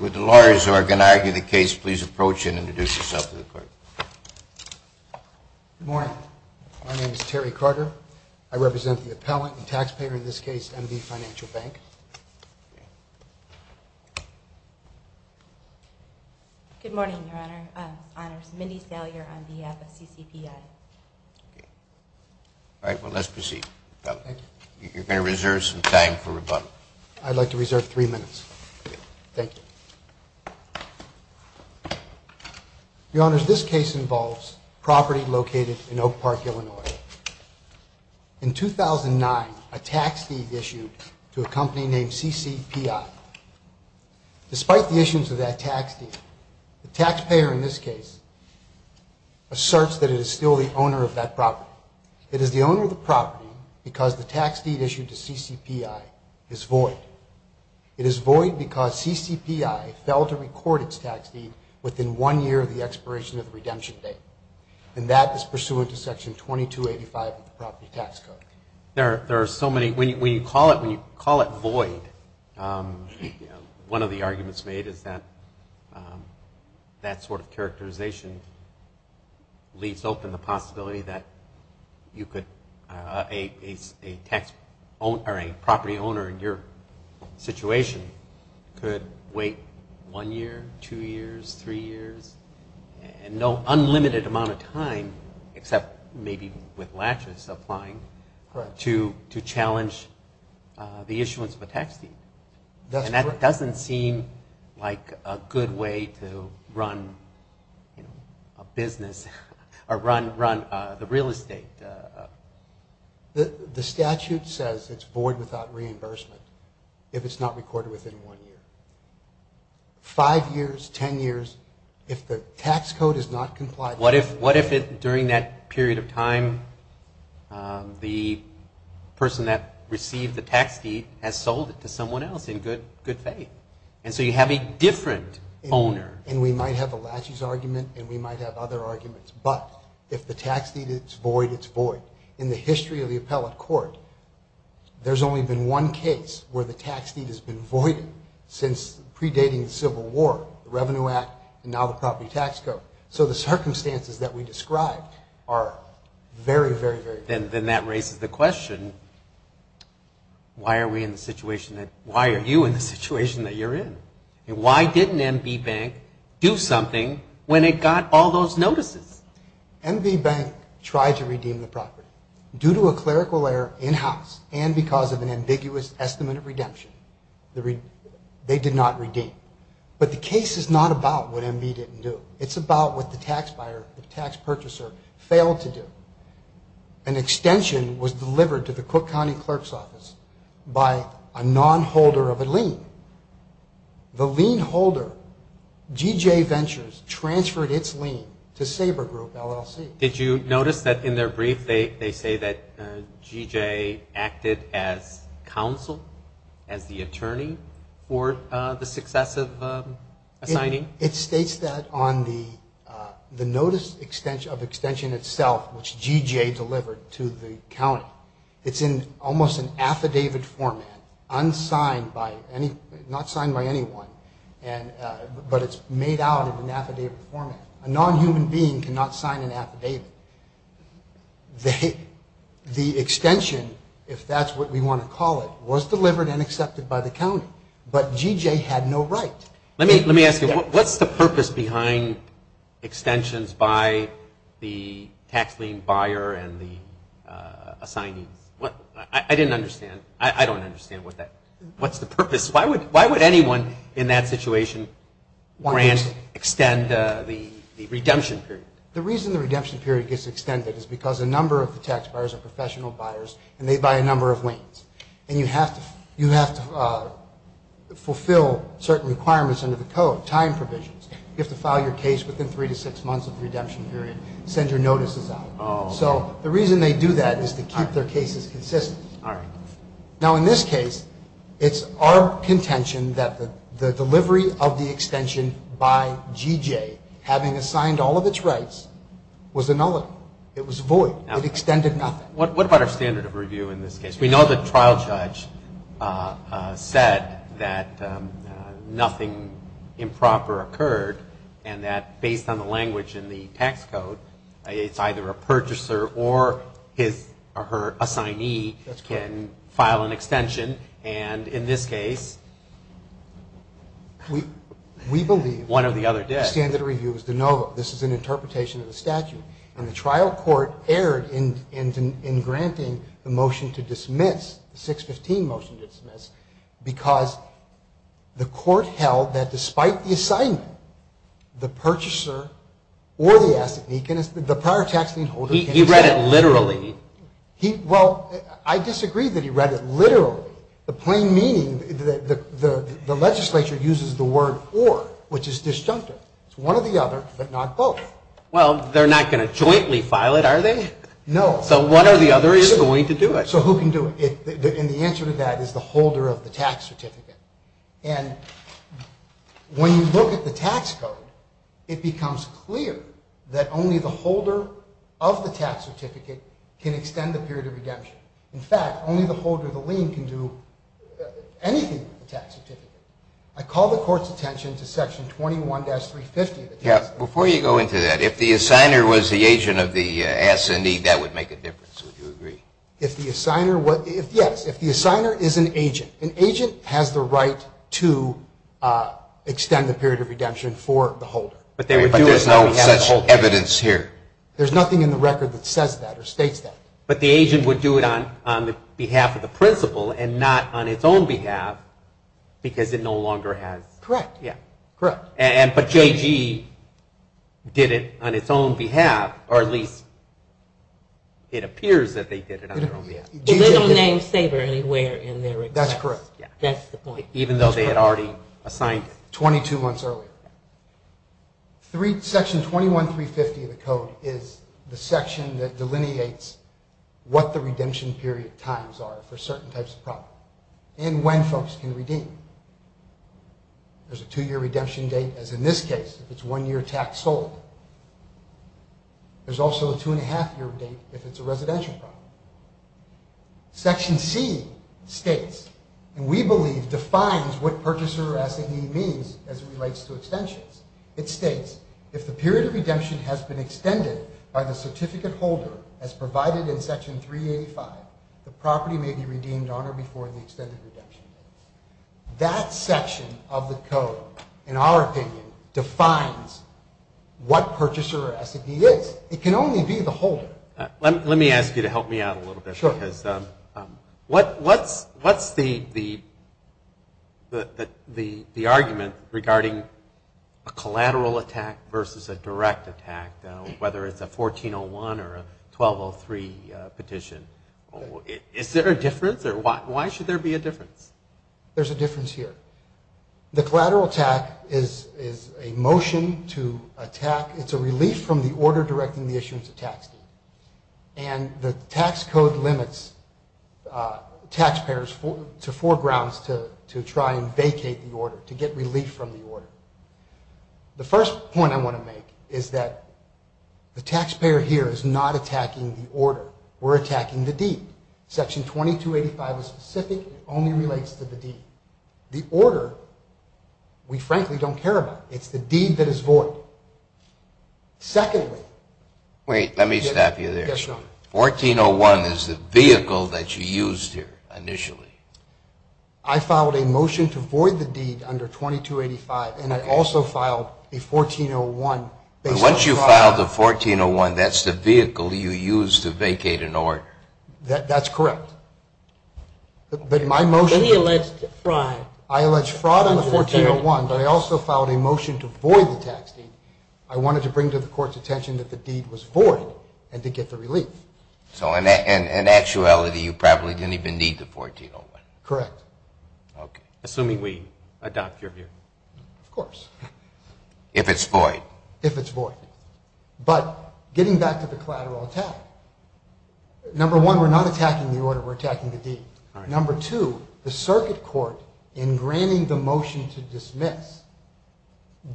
With the lawyers who are going to argue the case, please approach and introduce yourself to the court. Good morning. My name is Terry Carter. I represent the Appellant and Taxpayer, in this case, MD Financial Bank. Good morning, Your Honor. My name is Mindy Salyer, MDF of CCPI. All right. Well, let's proceed. You're going to reserve some time for rebuttal. I'd like to reserve three minutes. Thank you. Your Honors, this case involves property located in Oak Park, Illinois. In 2009, a tax deed issued to a company named CCPI. Despite the issues of that tax deed, the taxpayer, in this case, asserts that it is still the owner of that property. It is the owner of the property because the tax deed issued to CCPI is void. It is void because CCPI failed to record its tax deed within one year of the expiration of the redemption date. And that is pursuant to Section 2285 of the Property Tax Code. There are so many, when you call it void, one of the arguments made is that that sort of characterization leaves open the possibility that you could, a property owner in your situation could wait one year, two years, three years, and no unlimited amount of time, except maybe with latches applying, to challenge the issuance of a tax deed. And that doesn't seem like a good way to run a business, or run the real estate. The statute says it's void without reimbursement if it's not recorded within one year. Five years, ten years, if the tax code is not complied with. What if, during that period of time, the person that received the tax deed has sold it to someone else in good faith? And so you have a different owner. And we might have a latches argument, and we might have other arguments, but if the tax deed is void, it's void. In the history of the appellate court, there's only been one case where the tax deed has been voided since predating the Civil War. The Revenue Act, and now the Property Tax Code. So the circumstances that we described are very, very, very different. Then that raises the question, why are we in the situation that, why are you in the situation that you're in? Why didn't MB Bank do something when it got all those notices? MB Bank tried to redeem the property. Due to a clerical error in-house, and because of an ambiguous estimate of redemption, they did not redeem. But the case is not about what MB didn't do. It's about what the tax buyer, the tax purchaser, failed to do. An extension was delivered to the Cook County Clerk's Office by a non-holder of a lien. The lien holder, G.J. Ventures, transferred its lien to Sabre Group, LLC. Did you notice that in their brief, they say that G.J. acted as counsel, as the attorney for the successive assigning? It states that on the notice of extension itself, which G.J. delivered to the county. It's in almost an affidavit format, not signed by anyone, but it's made out in an affidavit format. A non-human being cannot sign an affidavit. The extension, if that's what we want to call it, was delivered and accepted by the county. But G.J. had no right. Let me ask you, what's the purpose behind extensions by the tax lien buyer and the assignees? I didn't understand. I don't understand. What's the purpose? Why would anyone in that situation grant, extend the redemption period? The reason the redemption period gets extended is because a number of the tax buyers are professional buyers, and they buy a number of liens. And you have to fulfill certain requirements under the code, time provisions. You have to file your case within three to six months of the redemption period, send your notices out. So the reason they do that is to keep their cases consistent. Now, in this case, it's our contention that the delivery of the extension by G.J., having assigned all of its rights, was annulled. It was void. It extended nothing. What about our standard of review in this case? We know the trial judge said that nothing improper occurred, and that based on the language in the tax code, it's either a purchaser or his or her assignee can file an extension. And in this case, one or the other did. We believe the standard of review is to know this is an interpretation of the statute. And the trial court erred in granting the motion to dismiss, the 615 motion to dismiss, because the court held that despite the assignment, the purchaser or the assignee, the prior tax lien holder He read it literally. Well, I disagree that he read it literally. The plain meaning, the legislature uses the word or, which is disjunctive. It's one or the other, but not both. Well, they're not going to jointly file it, are they? No. So one or the other isn't going to do it. So who can do it? And the answer to that is the holder of the tax certificate. And when you look at the tax code, it becomes clear that only the holder of the tax certificate can extend the period of redemption. In fact, only the holder of the lien can do anything with the tax certificate. Before you go into that, if the assigner was the agent of the S&E, that would make a difference. Would you agree? Yes, if the assigner is an agent. An agent has the right to extend the period of redemption for the holder. But there's no such evidence here. There's nothing in the record that says that or states that. But the agent would do it on behalf of the principal and not on its own behalf because it no longer has. Correct. But J.G. did it on its own behalf, or at least it appears that they did it on their own behalf. They don't name Saber anywhere in their records. That's correct. That's the point. Even though they had already assigned it. Twenty-two months earlier. Section 21350 of the code is the section that delineates what the redemption period times are for certain types of property and when folks can redeem. There's a two-year redemption date, as in this case, if it's one year tax sold. There's also a two-and-a-half-year date if it's a residential property. Section C states, and we believe defines what purchaser or S&E means as it relates to extensions. It states, if the period of redemption has been extended by the certificate holder as provided in Section 385, the property may be redeemed on or before the extended redemption date. That section of the code, in our opinion, defines what purchaser or S&E is. It can only be the holder. Let me ask you to help me out a little bit. Sure. Because what's the argument regarding a collateral attack versus a direct attack, whether it's a 1401 or a 1203 petition? Is there a difference? Why should there be a difference? There's a difference here. The collateral attack is a motion to attack. It's a relief from the order directing the issuance of tax deal. And the tax code limits taxpayers to four grounds to try and vacate the order, to get relief from the order. The first point I want to make is that the taxpayer here is not attacking the order. We're attacking the deed. Section 2285 is specific. It only relates to the deed. The order, we frankly don't care about. It's the deed that is void. Wait, let me stop you there. Yes, Your Honor. 1401 is the vehicle that you used here initially. I filed a motion to void the deed under 2285, and I also filed a 1401. But once you filed the 1401, that's the vehicle you used to vacate an order. That's correct. But in my motion, I alleged fraud on the 1401, but I also filed a motion to void the tax deed. I wanted to bring to the Court's attention that the deed was void and to get the relief. So in actuality, you probably didn't even need the 1401. Correct. Okay. Assuming we adopt your view. Of course. If it's void. If it's void. But getting back to the collateral attack, number one, we're not attacking the order. We're attacking the deed. Number two, the Circuit Court, in granting the motion to dismiss,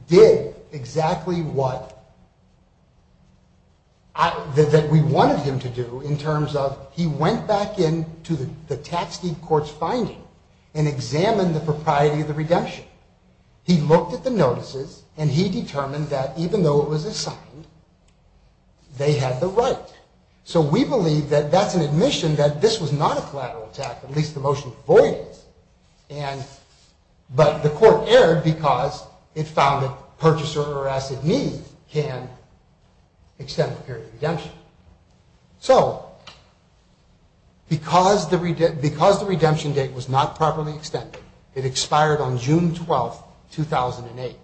did exactly what we wanted him to do in terms of he went back into the tax deed court's finding and examined the propriety of the redemption. He looked at the notices, and he determined that even though it was assigned, they had the right. So we believe that that's an admission that this was not a collateral attack, at least the motion to void it. But the Court erred because it found that purchaser or asset need can extend the period of redemption. So because the redemption date was not properly extended, it expired on June 12, 2008.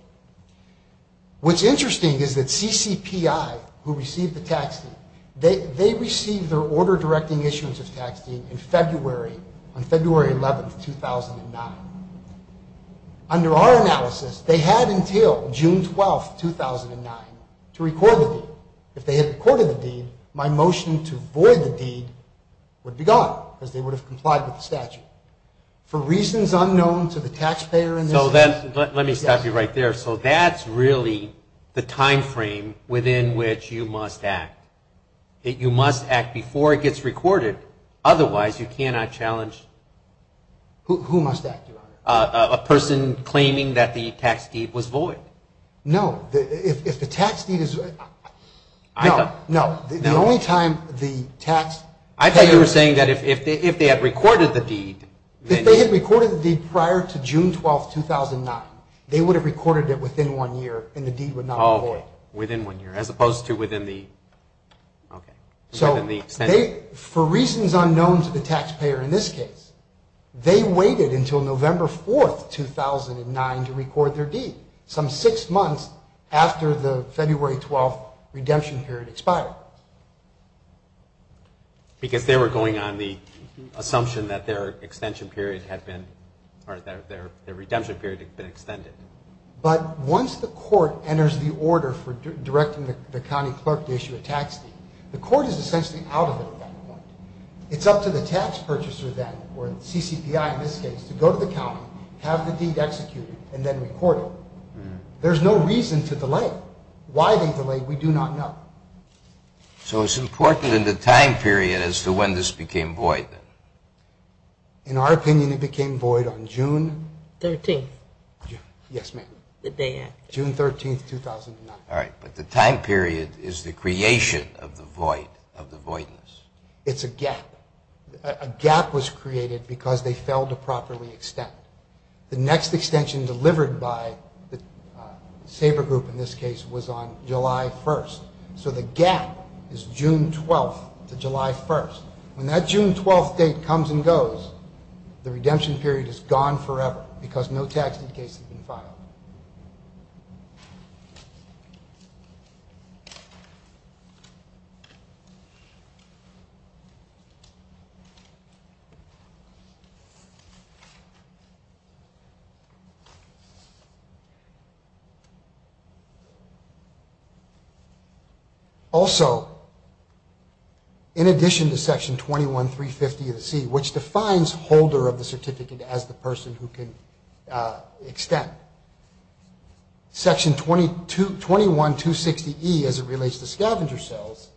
What's interesting is that CCPI, who received the tax deed, they received their order directing issuance of tax deed in February, on February 11, 2009. Under our analysis, they had until June 12, 2009 to record the deed. If they had recorded the deed, my motion to void the deed would be gone, because they would have complied with the statute. For reasons unknown to the taxpayer in this instance... Let me stop you right there. So that's really the time frame within which you must act. You must act before it gets recorded. Otherwise, you cannot challenge... Who must act, Your Honor? A person claiming that the tax deed was void. No. If the tax deed is... I thought... No. The only time the tax... I thought you were saying that if they had recorded the deed... If they had recorded the deed prior to June 12, 2009, they would have recorded it within one year and the deed would not be void. Within one year, as opposed to within the... So for reasons unknown to the taxpayer in this case, they waited until November 4, 2009 to record their deed. Some six months after the February 12 redemption period expired. Because they were going on the assumption that their redemption period had been extended. But once the court enters the order for directing the county clerk to issue a tax deed, the court is essentially out of it at that point. It's up to the tax purchaser then, or the CCPI in this case, to go to the county, have the deed executed, and then record it. There's no reason to delay. Why they delayed, we do not know. So it's important in the time period as to when this became void, then. In our opinion, it became void on June... 13. Yes, ma'am. The day after. June 13, 2009. All right. But the time period is the creation of the void, of the voidness. It's a gap. A gap was created because they failed to properly extend. The next extension delivered by the Sabre Group, in this case, was on July 1. So the gap is June 12 to July 1. When that June 12 date comes and goes, the redemption period is gone forever because no tax deductions have been filed. Also, in addition to Section 21.350 of the C, which defines holder of the certificate as the person who can extend, Section 21.260E, as it relates to scavenger sales,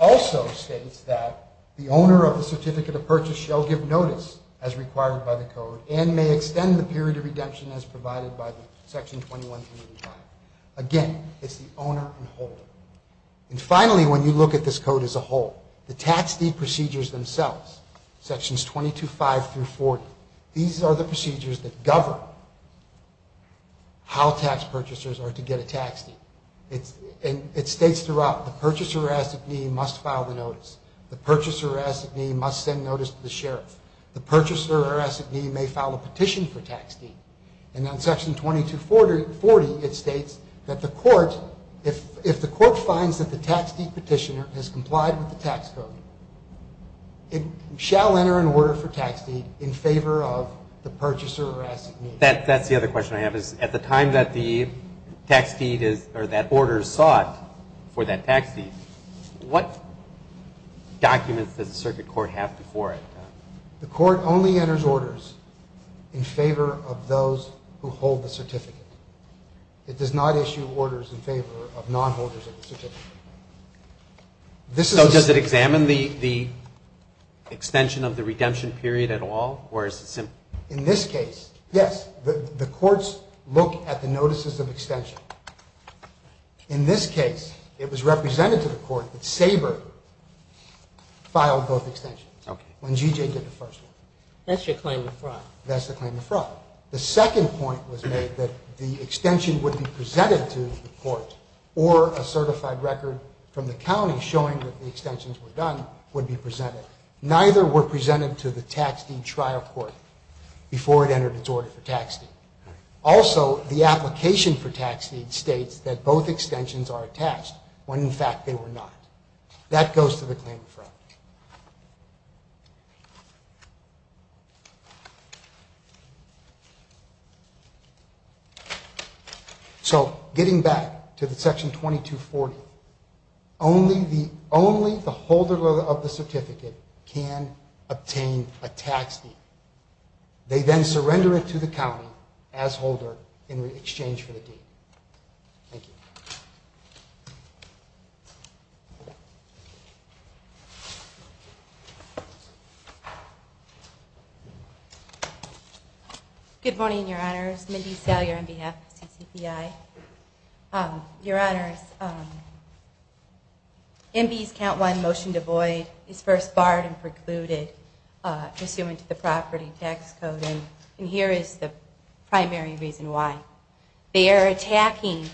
also states that the owner of the certificate of purchase shall give notice, as required by the code, and may extend the period of redemption as provided by Section 21.35. Again, it's the owner and holder. And finally, when you look at this code as a whole, the tax deed procedures themselves, Sections 22.5 through 40, these are the procedures that govern how tax purchasers are to get a tax deed. And it states throughout, the purchaser, as it may, must file the notice. The purchaser, as it may, must send notice to the sheriff. The purchaser, as it may, may file a petition for tax deed. And on Section 22.40, it states that the court, if the court finds that the tax deed petitioner has complied with the tax code, it shall enter an order for tax deed in favor of the purchaser, as it may. That's the other question I have, is at the time that the order is sought for that tax deed, what documents does the circuit court have before it? The court only enters orders in favor of those who hold the certificate. It does not issue orders in favor of non-holders of the certificate. So does it examine the extension of the redemption period at all, or is it simple? In this case, yes. The courts look at the notices of extension. In this case, it was represented to the court that Saber filed both extensions, when G.J. did the first one. That's the claim of fraud. The second point was made that the extension would be presented to the court, or a certified record from the county showing that the extensions were done would be presented. Neither were presented to the tax deed trial court before it entered its order for tax deed. Also, the application for tax deed states that both extensions are attached, when in fact they were not. That goes to the claim of fraud. So getting back to the section 2240, only the holder of the certificate can obtain a tax deed. They then surrender it to the county as holder in exchange for the deed. Thank you. Good morning, Your Honors. Mindy Salyer on behalf of CCPI. Your Honors, MB's count one motion to void is first barred and precluded, pursuant to the property tax code. And here is the primary reason why. They are attacking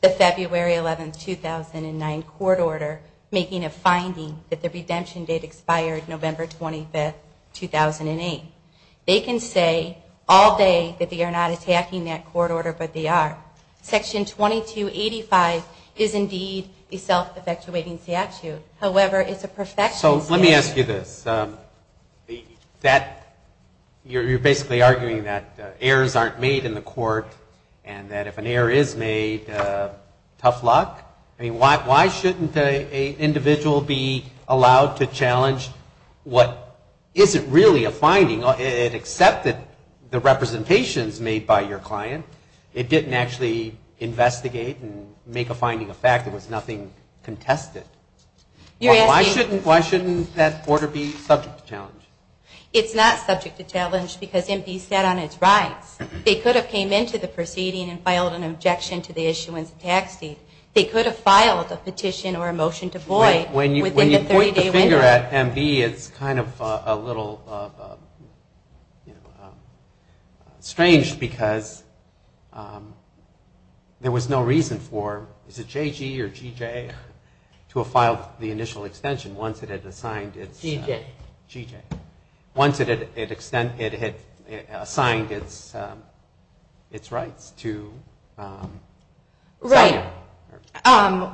the February 11, 2009 court order, making a finding that the redemption date expired November 25, 2008. They can say all day that they are not attacking that court order, but they are. Section 2285 is indeed a self-effectuating statute. However, it's a perfection statute. So let me ask you this. You're basically arguing that errors aren't made in the court, and that if an error is made, tough luck? I mean, why shouldn't an individual be allowed to challenge what isn't really a finding? It accepted the representations made by your client. It didn't actually investigate and make a finding of fact. There was nothing contested. Why shouldn't that order be subject to challenge? It's not subject to challenge because MB sat on its rights. They could have came into the proceeding and filed an objection to the issuance of tax deed. They could have filed a petition or a motion to void within the 30-day window. When you point the finger at MB, it's kind of a little strange because there was no reason for, is it JG or GJ, to have filed the initial extension once it had assigned its rights to sign it. Right.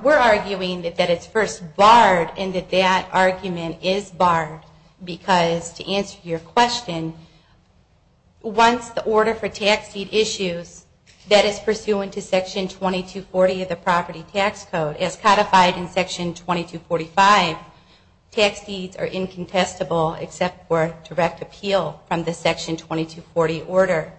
We're arguing that it's first barred and that that argument is barred because, to answer your question, once the order for tax deed issues that is pursuant to Section 2240 of the Property Tax Code is codified in Section 2245, tax deeds are incontestable except for direct appeal from the Section 2240 order.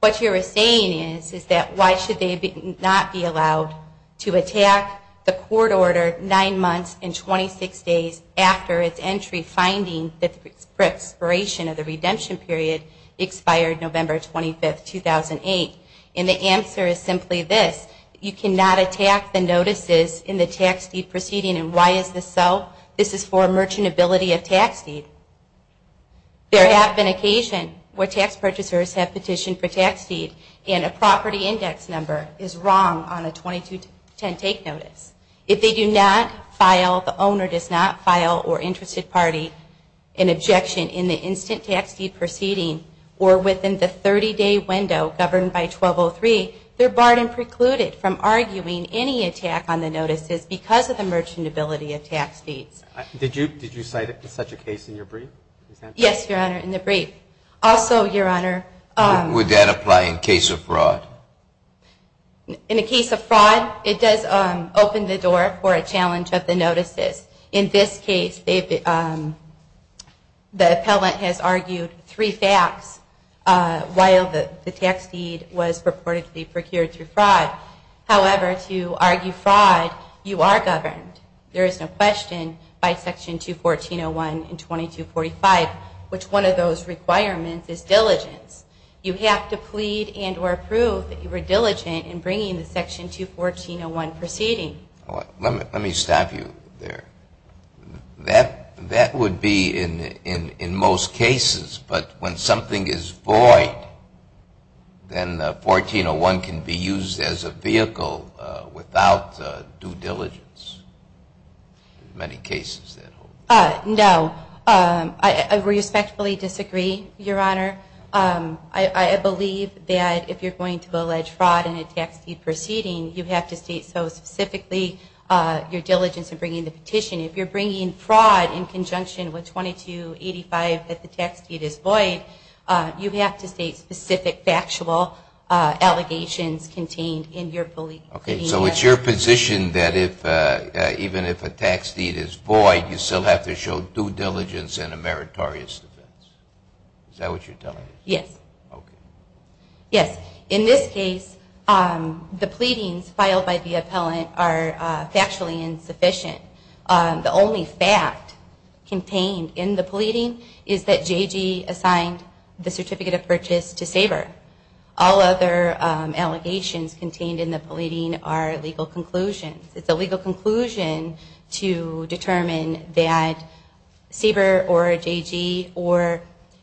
What you're saying is that why should they not be allowed to attack the court order nine months and 26 days after its entry finding that the expiration of the redemption period expired November 25, 2008? And the answer is simply this. You cannot attack the notices in the tax deed proceeding. And why is this so? This is for merchantability of tax deed. There have been occasion where tax purchasers have petitioned for tax deed and a property index number is wrong on a 2210 take notice. If they do not file, the owner does not file or interested party an objection in the instant tax deed proceeding or within the 30-day window governed by 1203, they're barred and precluded from arguing any attack on the notices because of the merchantability of tax deeds. Did you cite such a case in your brief? Yes, Your Honor, in the brief. Also, Your Honor, Would that apply in case of fraud? In a case of fraud, it does open the door for a challenge of the notices. In this case, the appellant has argued three facts while the tax deed was purportedly procured through fraud. However, to argue fraud, you are governed. There is no question by Section 214.01 and 2245 which one of those requirements is diligence. You have to plead and or prove that you were diligent in bringing the Section 214.01 proceeding. Let me stop you there. That would be in most cases, but when something is void, then 1401 can be used as a vehicle without due diligence in many cases. No. I respectfully disagree, Your Honor. I believe that if you're going to allege fraud in a tax deed proceeding, you have to state so specifically your diligence in bringing the petition. If you're bringing fraud in conjunction with 2285 that the tax deed is void, you have to state specific factual allegations contained in your pleading. Okay. So it's your position that even if a tax deed is void, you still have to show due diligence and a meritorious defense. Is that what you're telling me? Yes. Okay. Yes. In this case, the pleadings filed by the appellant are factually insufficient. The only fact contained in the pleading is that J.G. assigned the certificate of purchase to Saber. All other allegations contained in the pleading are legal conclusions. It's a legal conclusion to determine that Saber or J.G. or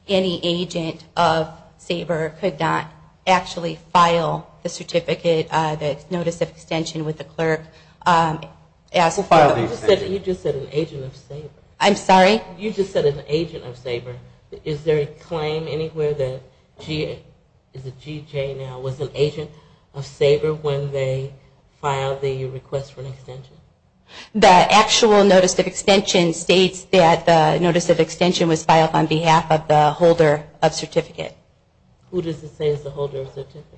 any agent of Saber could not actually file the certificate, the notice of extension with the clerk. You just said an agent of Saber. I'm sorry? You just said an agent of Saber. Is there a claim anywhere that J.G. was an agent of Saber when they filed the request for an extension? The actual notice of extension states that the notice of extension was filed on behalf of the holder of certificate. Who does it say is the holder of certificate?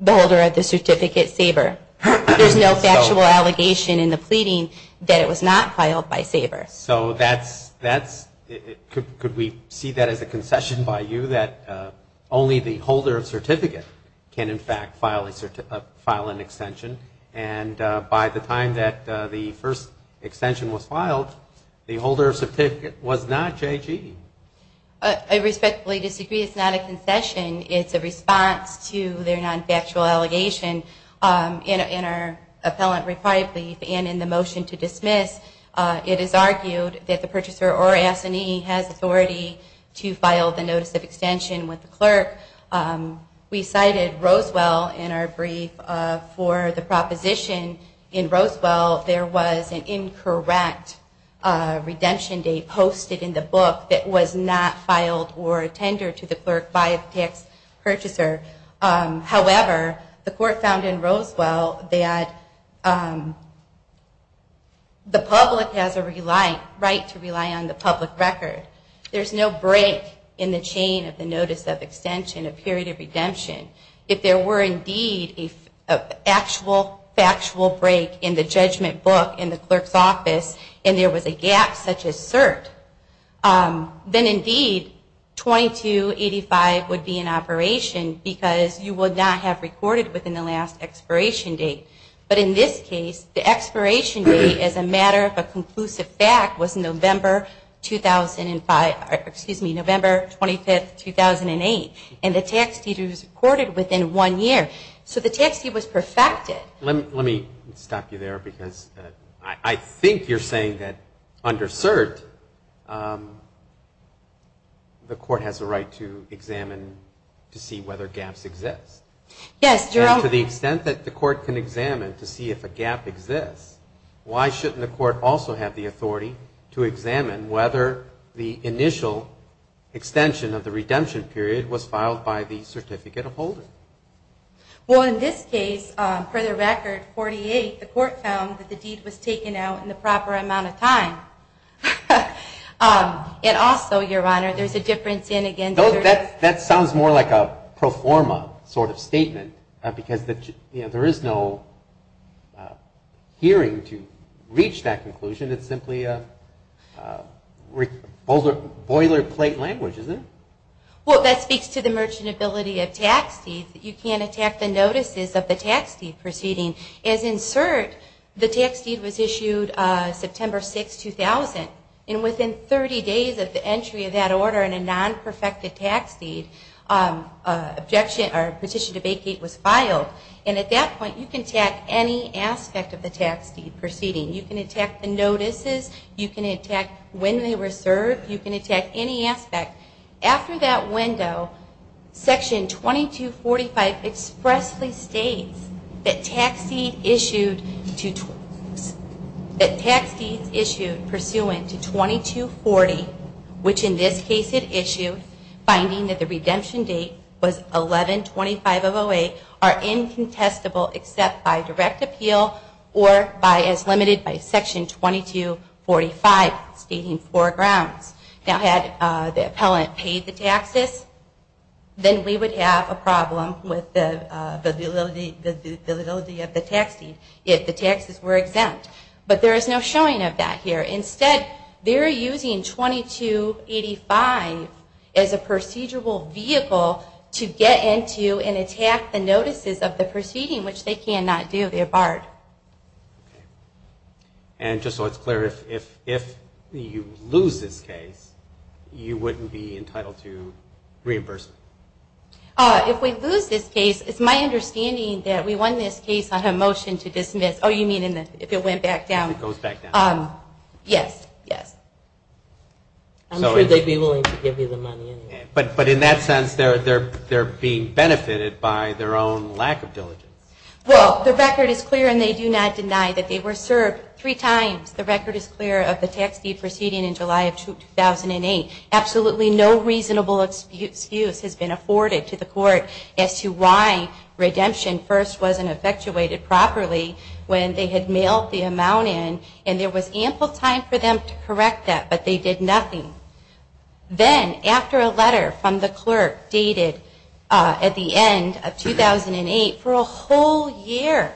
The holder of the certificate, Saber. There's no factual allegation in the pleading that it was not filed by Saber. So that's – could we see that as a concession by you, that only the holder of certificate can, in fact, file an extension? And by the time that the first extension was filed, the holder of certificate was not J.G.? I respectfully disagree. It's not a concession. It's a response to their non-factual allegation. In our appellant reply brief and in the motion to dismiss, it is argued that the purchaser or assignee has authority to file the notice of extension with the clerk. We cited Roswell in our brief for the proposition. In Roswell, there was an incorrect redemption date posted in the book that was not filed or attended to the clerk by the tax purchaser. However, the court found in Roswell that the public has a right to rely on the public record. There's no break in the chain of the notice of extension, a period of redemption. If there were indeed an actual factual break in the judgment book in the clerk's office and there was a gap such as cert, then, indeed, 2285 would be in operation because you would not have recorded within the last expiration date. But in this case, the expiration date, as a matter of a conclusive fact, was November 2005 or, excuse me, November 25, 2008. And the tax deduction was recorded within one year. So the tax deed was perfected. Well, let me stop you there because I think you're saying that under cert, the court has a right to examine to see whether gaps exist. Yes, Gerald. To the extent that the court can examine to see if a gap exists, why shouldn't the court also have the authority to examine whether the initial extension of the redemption period was filed by the certificate of holder? Well, in this case, for the record, 48, the court found that the deed was taken out in the proper amount of time. And also, Your Honor, there's a difference in, again- That sounds more like a pro forma sort of statement because there is no hearing to reach that conclusion. It's simply boilerplate language, isn't it? Well, that speaks to the merchantability of tax deeds. You can't attack the notices of the tax deed proceeding. As in cert, the tax deed was issued September 6, 2000. And within 30 days of the entry of that order in a non-perfected tax deed, a petition to vacate was filed. And at that point, you can attack any aspect of the tax deed proceeding. You can attack the notices. You can attack when they were served. You can attack any aspect. After that window, Section 2245 expressly states that tax deeds issued pursuant to 2240, which in this case it issued, finding that the redemption date was 11-25-08, are incontestable except by direct appeal or as limited by Section 2245, stating four grounds. Now, had the appellant paid the taxes, then we would have a problem with the validity of the tax deed if the taxes were exempt. But there is no showing of that here. Instead, they're using 2285 as a procedural vehicle to get into and attack the notices of the proceeding, which they cannot do. They're barred. Okay. And just so it's clear, if you lose this case, you wouldn't be entitled to reimbursement? If we lose this case, it's my understanding that we won this case on a motion to dismiss. Oh, you mean if it went back down? It goes back down. Yes, yes. I'm sure they'd be willing to give you the money anyway. But in that sense, they're being benefited by their own lack of diligence. Well, the record is clear, and they do not deny that they were served three times. The record is clear of the tax deed proceeding in July of 2008. Absolutely no reasonable excuse has been afforded to the court as to why redemption first wasn't effectuated properly when they had mailed the amount in. And there was ample time for them to correct that, but they did nothing. Then, after a letter from the clerk dated at the end of 2008 for a whole year,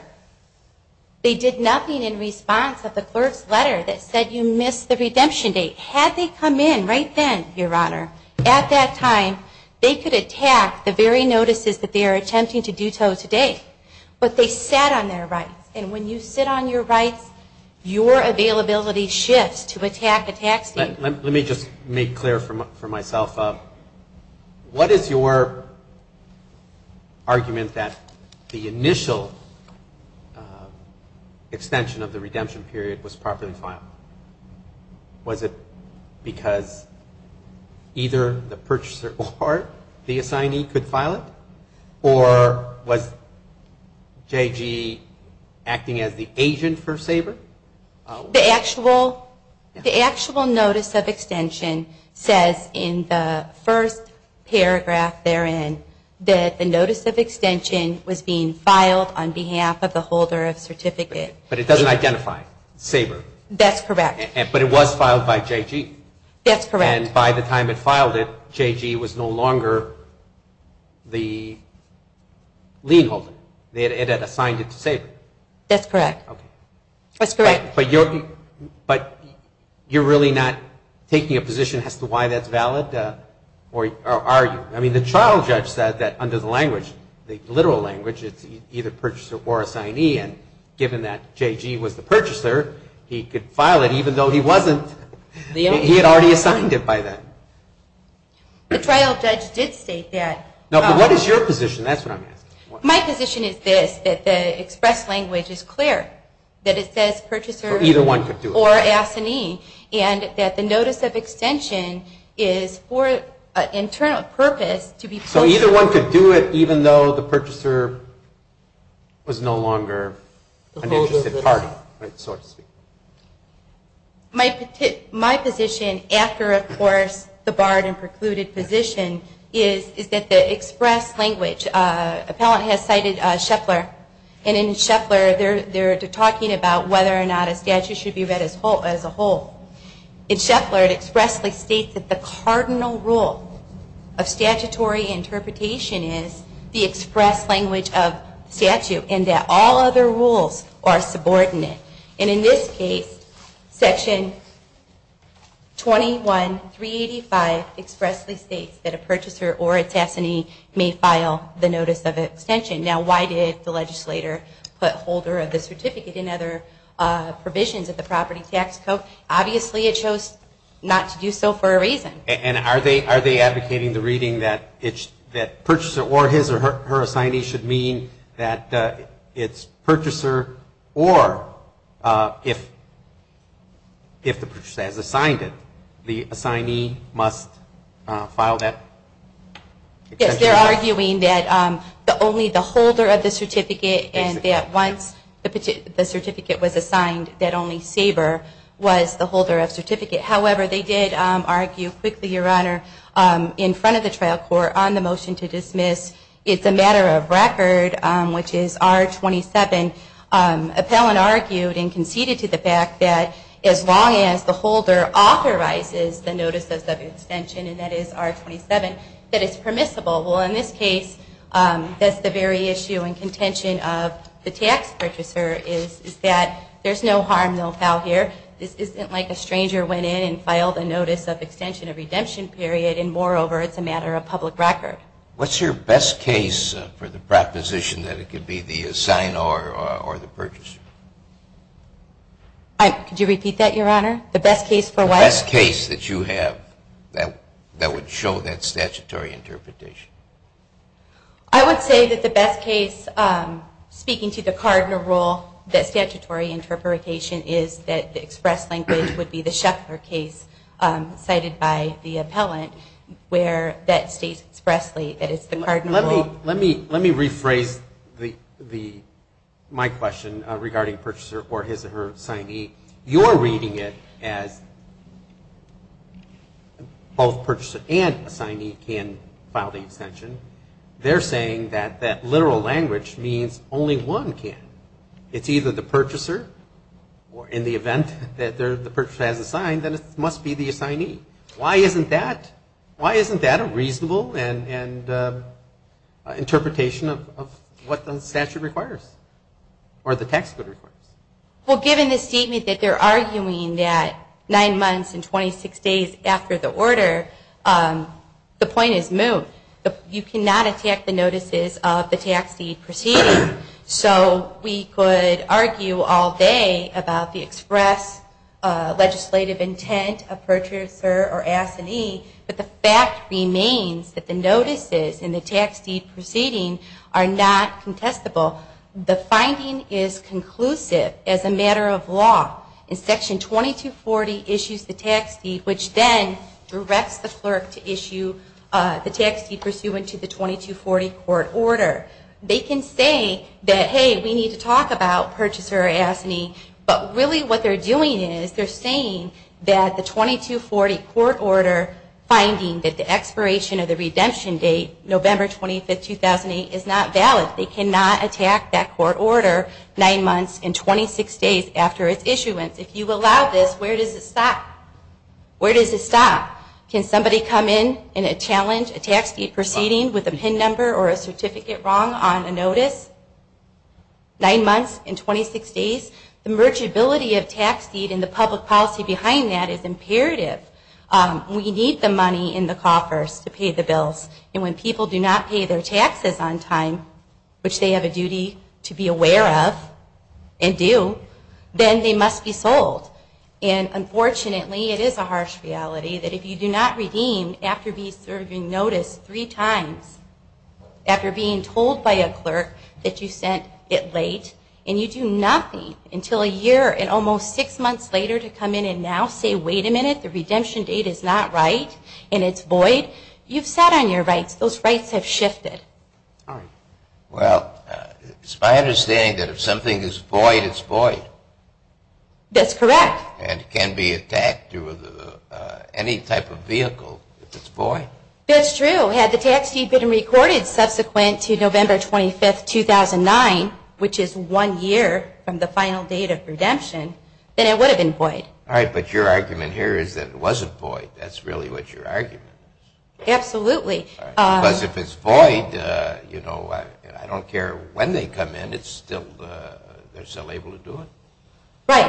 they did nothing in response of the clerk's letter that said you missed the redemption date. Had they come in right then, Your Honor, at that time, they could attack the very notices that they are attempting to do so today. But they sat on their rights, and when you sit on your rights, your availability shifts to attack a tax deed. Let me just make clear for myself. What is your argument that the initial extension of the redemption period was properly filed? Was it because either the purchaser or the assignee could file it? Or was J.G. acting as the agent for Sabre? The actual notice of extension says in the first paragraph therein that the notice of extension was being filed on behalf of the holder of certificate. But it doesn't identify Sabre. That's correct. But it was filed by J.G. That's correct. And by the time it filed it, J.G. was no longer the lien holder. It had assigned it to Sabre. That's correct. Okay. That's correct. But you're really not taking a position as to why that's valid, or are you? I mean, the trial judge said that under the language, the literal language, it's either purchaser or assignee. And given that J.G. was the purchaser, he could file it even though he wasn't. He had already assigned it by then. The trial judge did state that. No, but what is your position? That's what I'm asking. My position is this, that the express language is clear, that it says purchaser or assignee, and that the notice of extension is for an internal purpose. So either one could do it even though the purchaser was no longer an interested party, so to speak. My position, after, of course, the barred and precluded position, is that the express language, appellant has cited Scheffler, and in Scheffler they're talking about whether or not a statute should be read as a whole. In Scheffler it expressly states that the cardinal rule of statutory interpretation is the express language of the statute, and that all other rules are subordinate. And in this case, Section 21.385 expressly states that a purchaser or its assignee may file the notice of extension. Now, why did the legislator put holder of the certificate in other provisions of the property tax code? Obviously it chose not to do so for a reason. And are they advocating the reading that purchaser or his or her assignee should mean that it's purchaser or if the purchaser has assigned it, the assignee must file that extension? Yes, they're arguing that only the holder of the certificate and that once the certificate was assigned that only Saber was the holder of certificate. However, they did argue quickly, Your Honor, in front of the trial court on the motion to dismiss, it's a matter of record, which is R27, appellant argued and conceded to the fact that as long as the holder authorizes the notices of extension, and that is R27, that it's permissible. Well, in this case, that's the very issue and contention of the tax purchaser is that there's no harm, no foul here. This isn't like a stranger went in and filed a notice of extension of redemption period, and moreover, it's a matter of public record. What's your best case for the proposition that it could be the assignee or the purchaser? Could you repeat that, Your Honor? The best case for what? The best case that you have that would show that statutory interpretation. I would say that the best case, speaking to the card in a rule, that statutory interpretation is that the express language would be the Schaeffler case cited by the appellant where that states expressly that it's the card in a rule. Let me rephrase my question regarding purchaser or his or her assignee. You're reading it as both purchaser and assignee can file the extension. They're saying that that literal language means only one can. If it's either the purchaser or in the event that the purchaser has a sign, then it must be the assignee. Why isn't that a reasonable interpretation of what the statute requires or the tax code requires? Well, given the statement that they're arguing that nine months and 26 days after the order, the point is moved. You cannot attack the notices of the tax deed proceeding. So we could argue all day about the express legislative intent of purchaser or assignee, but the fact remains that the notices in the tax deed proceeding are not contestable. The finding is conclusive as a matter of law. Section 2240 issues the tax deed which then directs the clerk to issue the tax deed pursuant to the 2240 court order. They can say that, hey, we need to talk about purchaser or assignee, but really what they're doing is they're saying that the 2240 court order finding that the expiration of the redemption date, November 25, 2008, is not valid. They cannot attack that court order nine months and 26 days after its issuance. If you allow this, where does it stop? Where does it stop? Can somebody come in and challenge a tax deed proceeding with a PIN number or a certificate wrong on a notice nine months and 26 days? The mergeability of tax deed and the public policy behind that is imperative. We need the money in the coffers to pay the bills, and when people do not pay their taxes on time, which they have a duty to be aware of and do, then they must be sold. And unfortunately it is a harsh reality that if you do not redeem after being served on notice three times, after being told by a clerk that you sent it late, and you do nothing until a year and almost six months later to come in and now say, wait a minute, the redemption date is not right and it's void, you've sat on your rights. Those rights have shifted. Well, it's my understanding that if something is void, it's void. That's correct. And it can be attacked through any type of vehicle if it's void. That's true. Had the tax deed been recorded subsequent to November 25, 2009, which is one year from the final date of redemption, then it would have been void. All right, but your argument here is that it wasn't void. That's really what your argument is. Absolutely. Because if it's void, you know, I don't care when they come in, they're still able to do it? Right.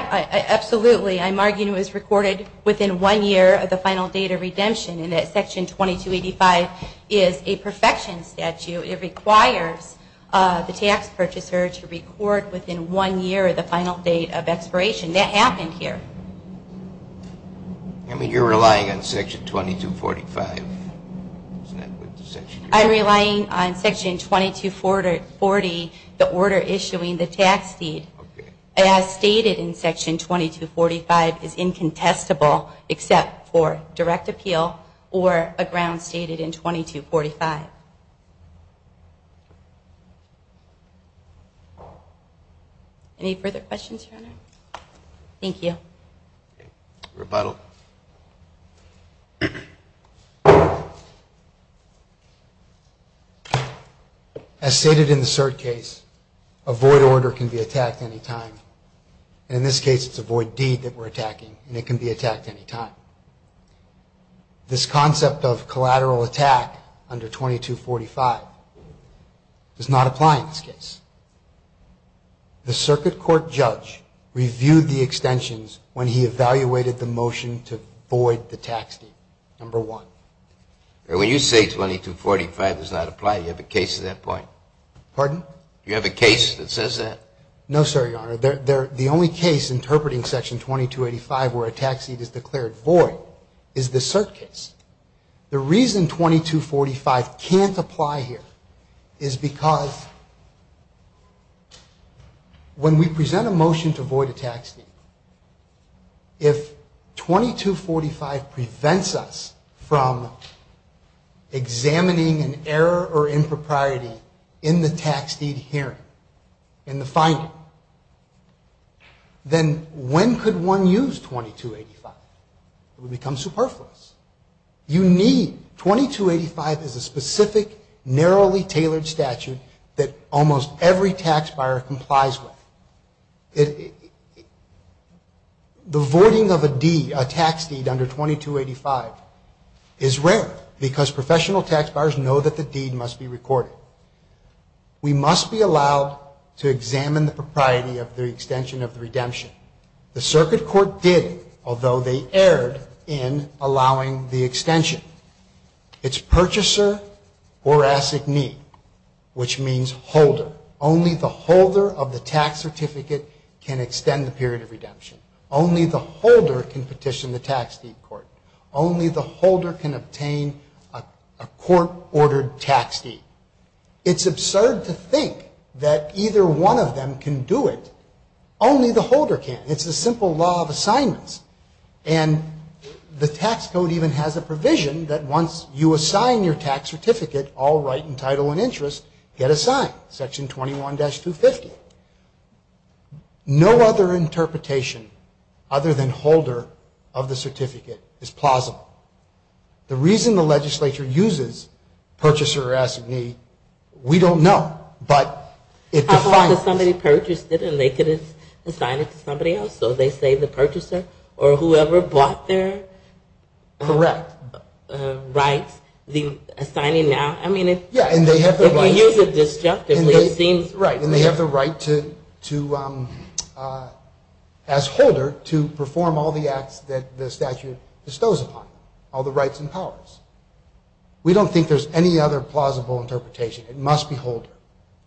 Absolutely. I'm arguing it was recorded within one year of the final date of redemption and that Section 2285 is a perfection statute. It requires the tax purchaser to record within one year of the final date of expiration. That happened here. I mean, you're relying on Section 2245. I'm relying on Section 2240, the order issuing the tax deed, as stated in Section 2245 is incontestable except for direct appeal or a ground stated in 2245. Any further questions, Your Honor? Thank you. Rebuttal. As stated in the cert case, a void order can be attacked any time. In this case, it's a void deed that we're attacking, and it can be attacked any time. This concept of collateral attack under 2245 does not apply in this case. The circuit court judge reviewed the extensions when he evaluated the motion to void the tax deed, number one. When you say 2245 does not apply, do you have a case to that point? Pardon? Do you have a case that says that? No, sir, Your Honor. The only case interpreting Section 2285 where a tax deed is declared void is the cert case. The reason 2245 can't apply here is because when we present a motion to void a tax deed, if 2245 prevents us from examining an error or impropriety in the tax deed hearing, in the finding, then when could one use 2285? It would become superfluous. You need, 2285 is a specific, narrowly tailored statute that almost every tax buyer complies with. The voiding of a deed, a tax deed under 2285 is rare because professional tax buyers know that the deed must be recorded. We must be allowed to examine the propriety of the extension of the redemption. The circuit court did, although they erred in allowing the extension. It's purchaser or assignee, which means holder. Only the holder of the tax certificate can extend the period of redemption. Only the holder can petition the tax deed court. Only the holder can obtain a court-ordered tax deed. It's absurd to think that either one of them can do it. Only the holder can. It's the simple law of assignments. And the tax code even has a provision that once you assign your tax certificate, all right and title and interest, get assigned, Section 21-250. No other interpretation other than holder of the certificate is plausible. The reason the legislature uses purchaser or assignee, we don't know, but it defines it. How about if somebody purchased it and they could assign it to somebody else? So they say the purchaser or whoever bought their rights, the assigning now. I mean, if you use it disjunctively, it seems right. And they have the right to, as holder, to perform all the acts that the statute bestows upon them, all the rights and powers. We don't think there's any other plausible interpretation. It must be holder,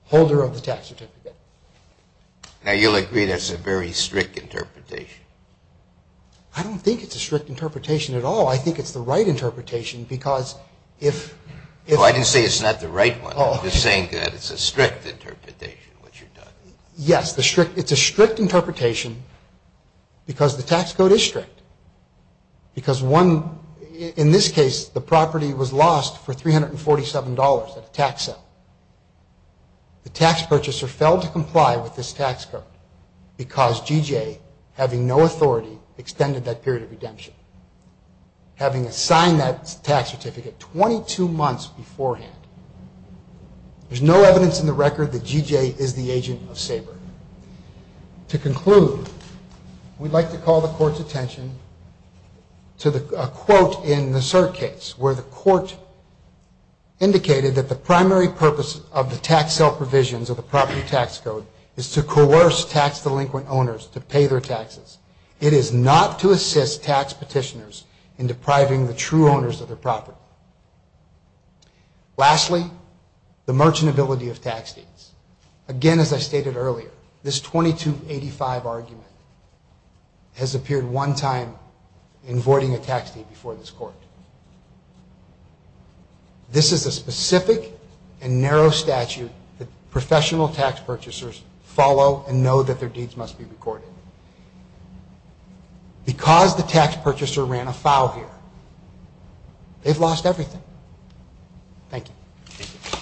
holder of the tax certificate. Now, you'll agree that's a very strict interpretation. I don't think it's a strict interpretation at all. I think it's the right interpretation because if you say it's not the right one, you're saying that it's a strict interpretation, what you're doing. Yes, it's a strict interpretation because the tax code is strict. Because one, in this case, the property was lost for $347 at a tax sale. The tax purchaser failed to comply with this tax code because G.J., having assigned that tax certificate 22 months beforehand. There's no evidence in the record that G.J. is the agent of Sabre. To conclude, we'd like to call the court's attention to a quote in the cert case, where the court indicated that the primary purpose of the tax sale provisions of the property tax code is to coerce tax-delinquent owners to pay their taxes. It is not to assist tax petitioners in depriving the true owners of their property. Lastly, the merchantability of tax deeds. Again, as I stated earlier, this 2285 argument has appeared one time in voiding a tax deed before this court. This is a specific and narrow statute that professional tax purchasers follow and know that their deeds must be recorded. Because the tax purchaser ran afoul here, they've lost everything. Thank you.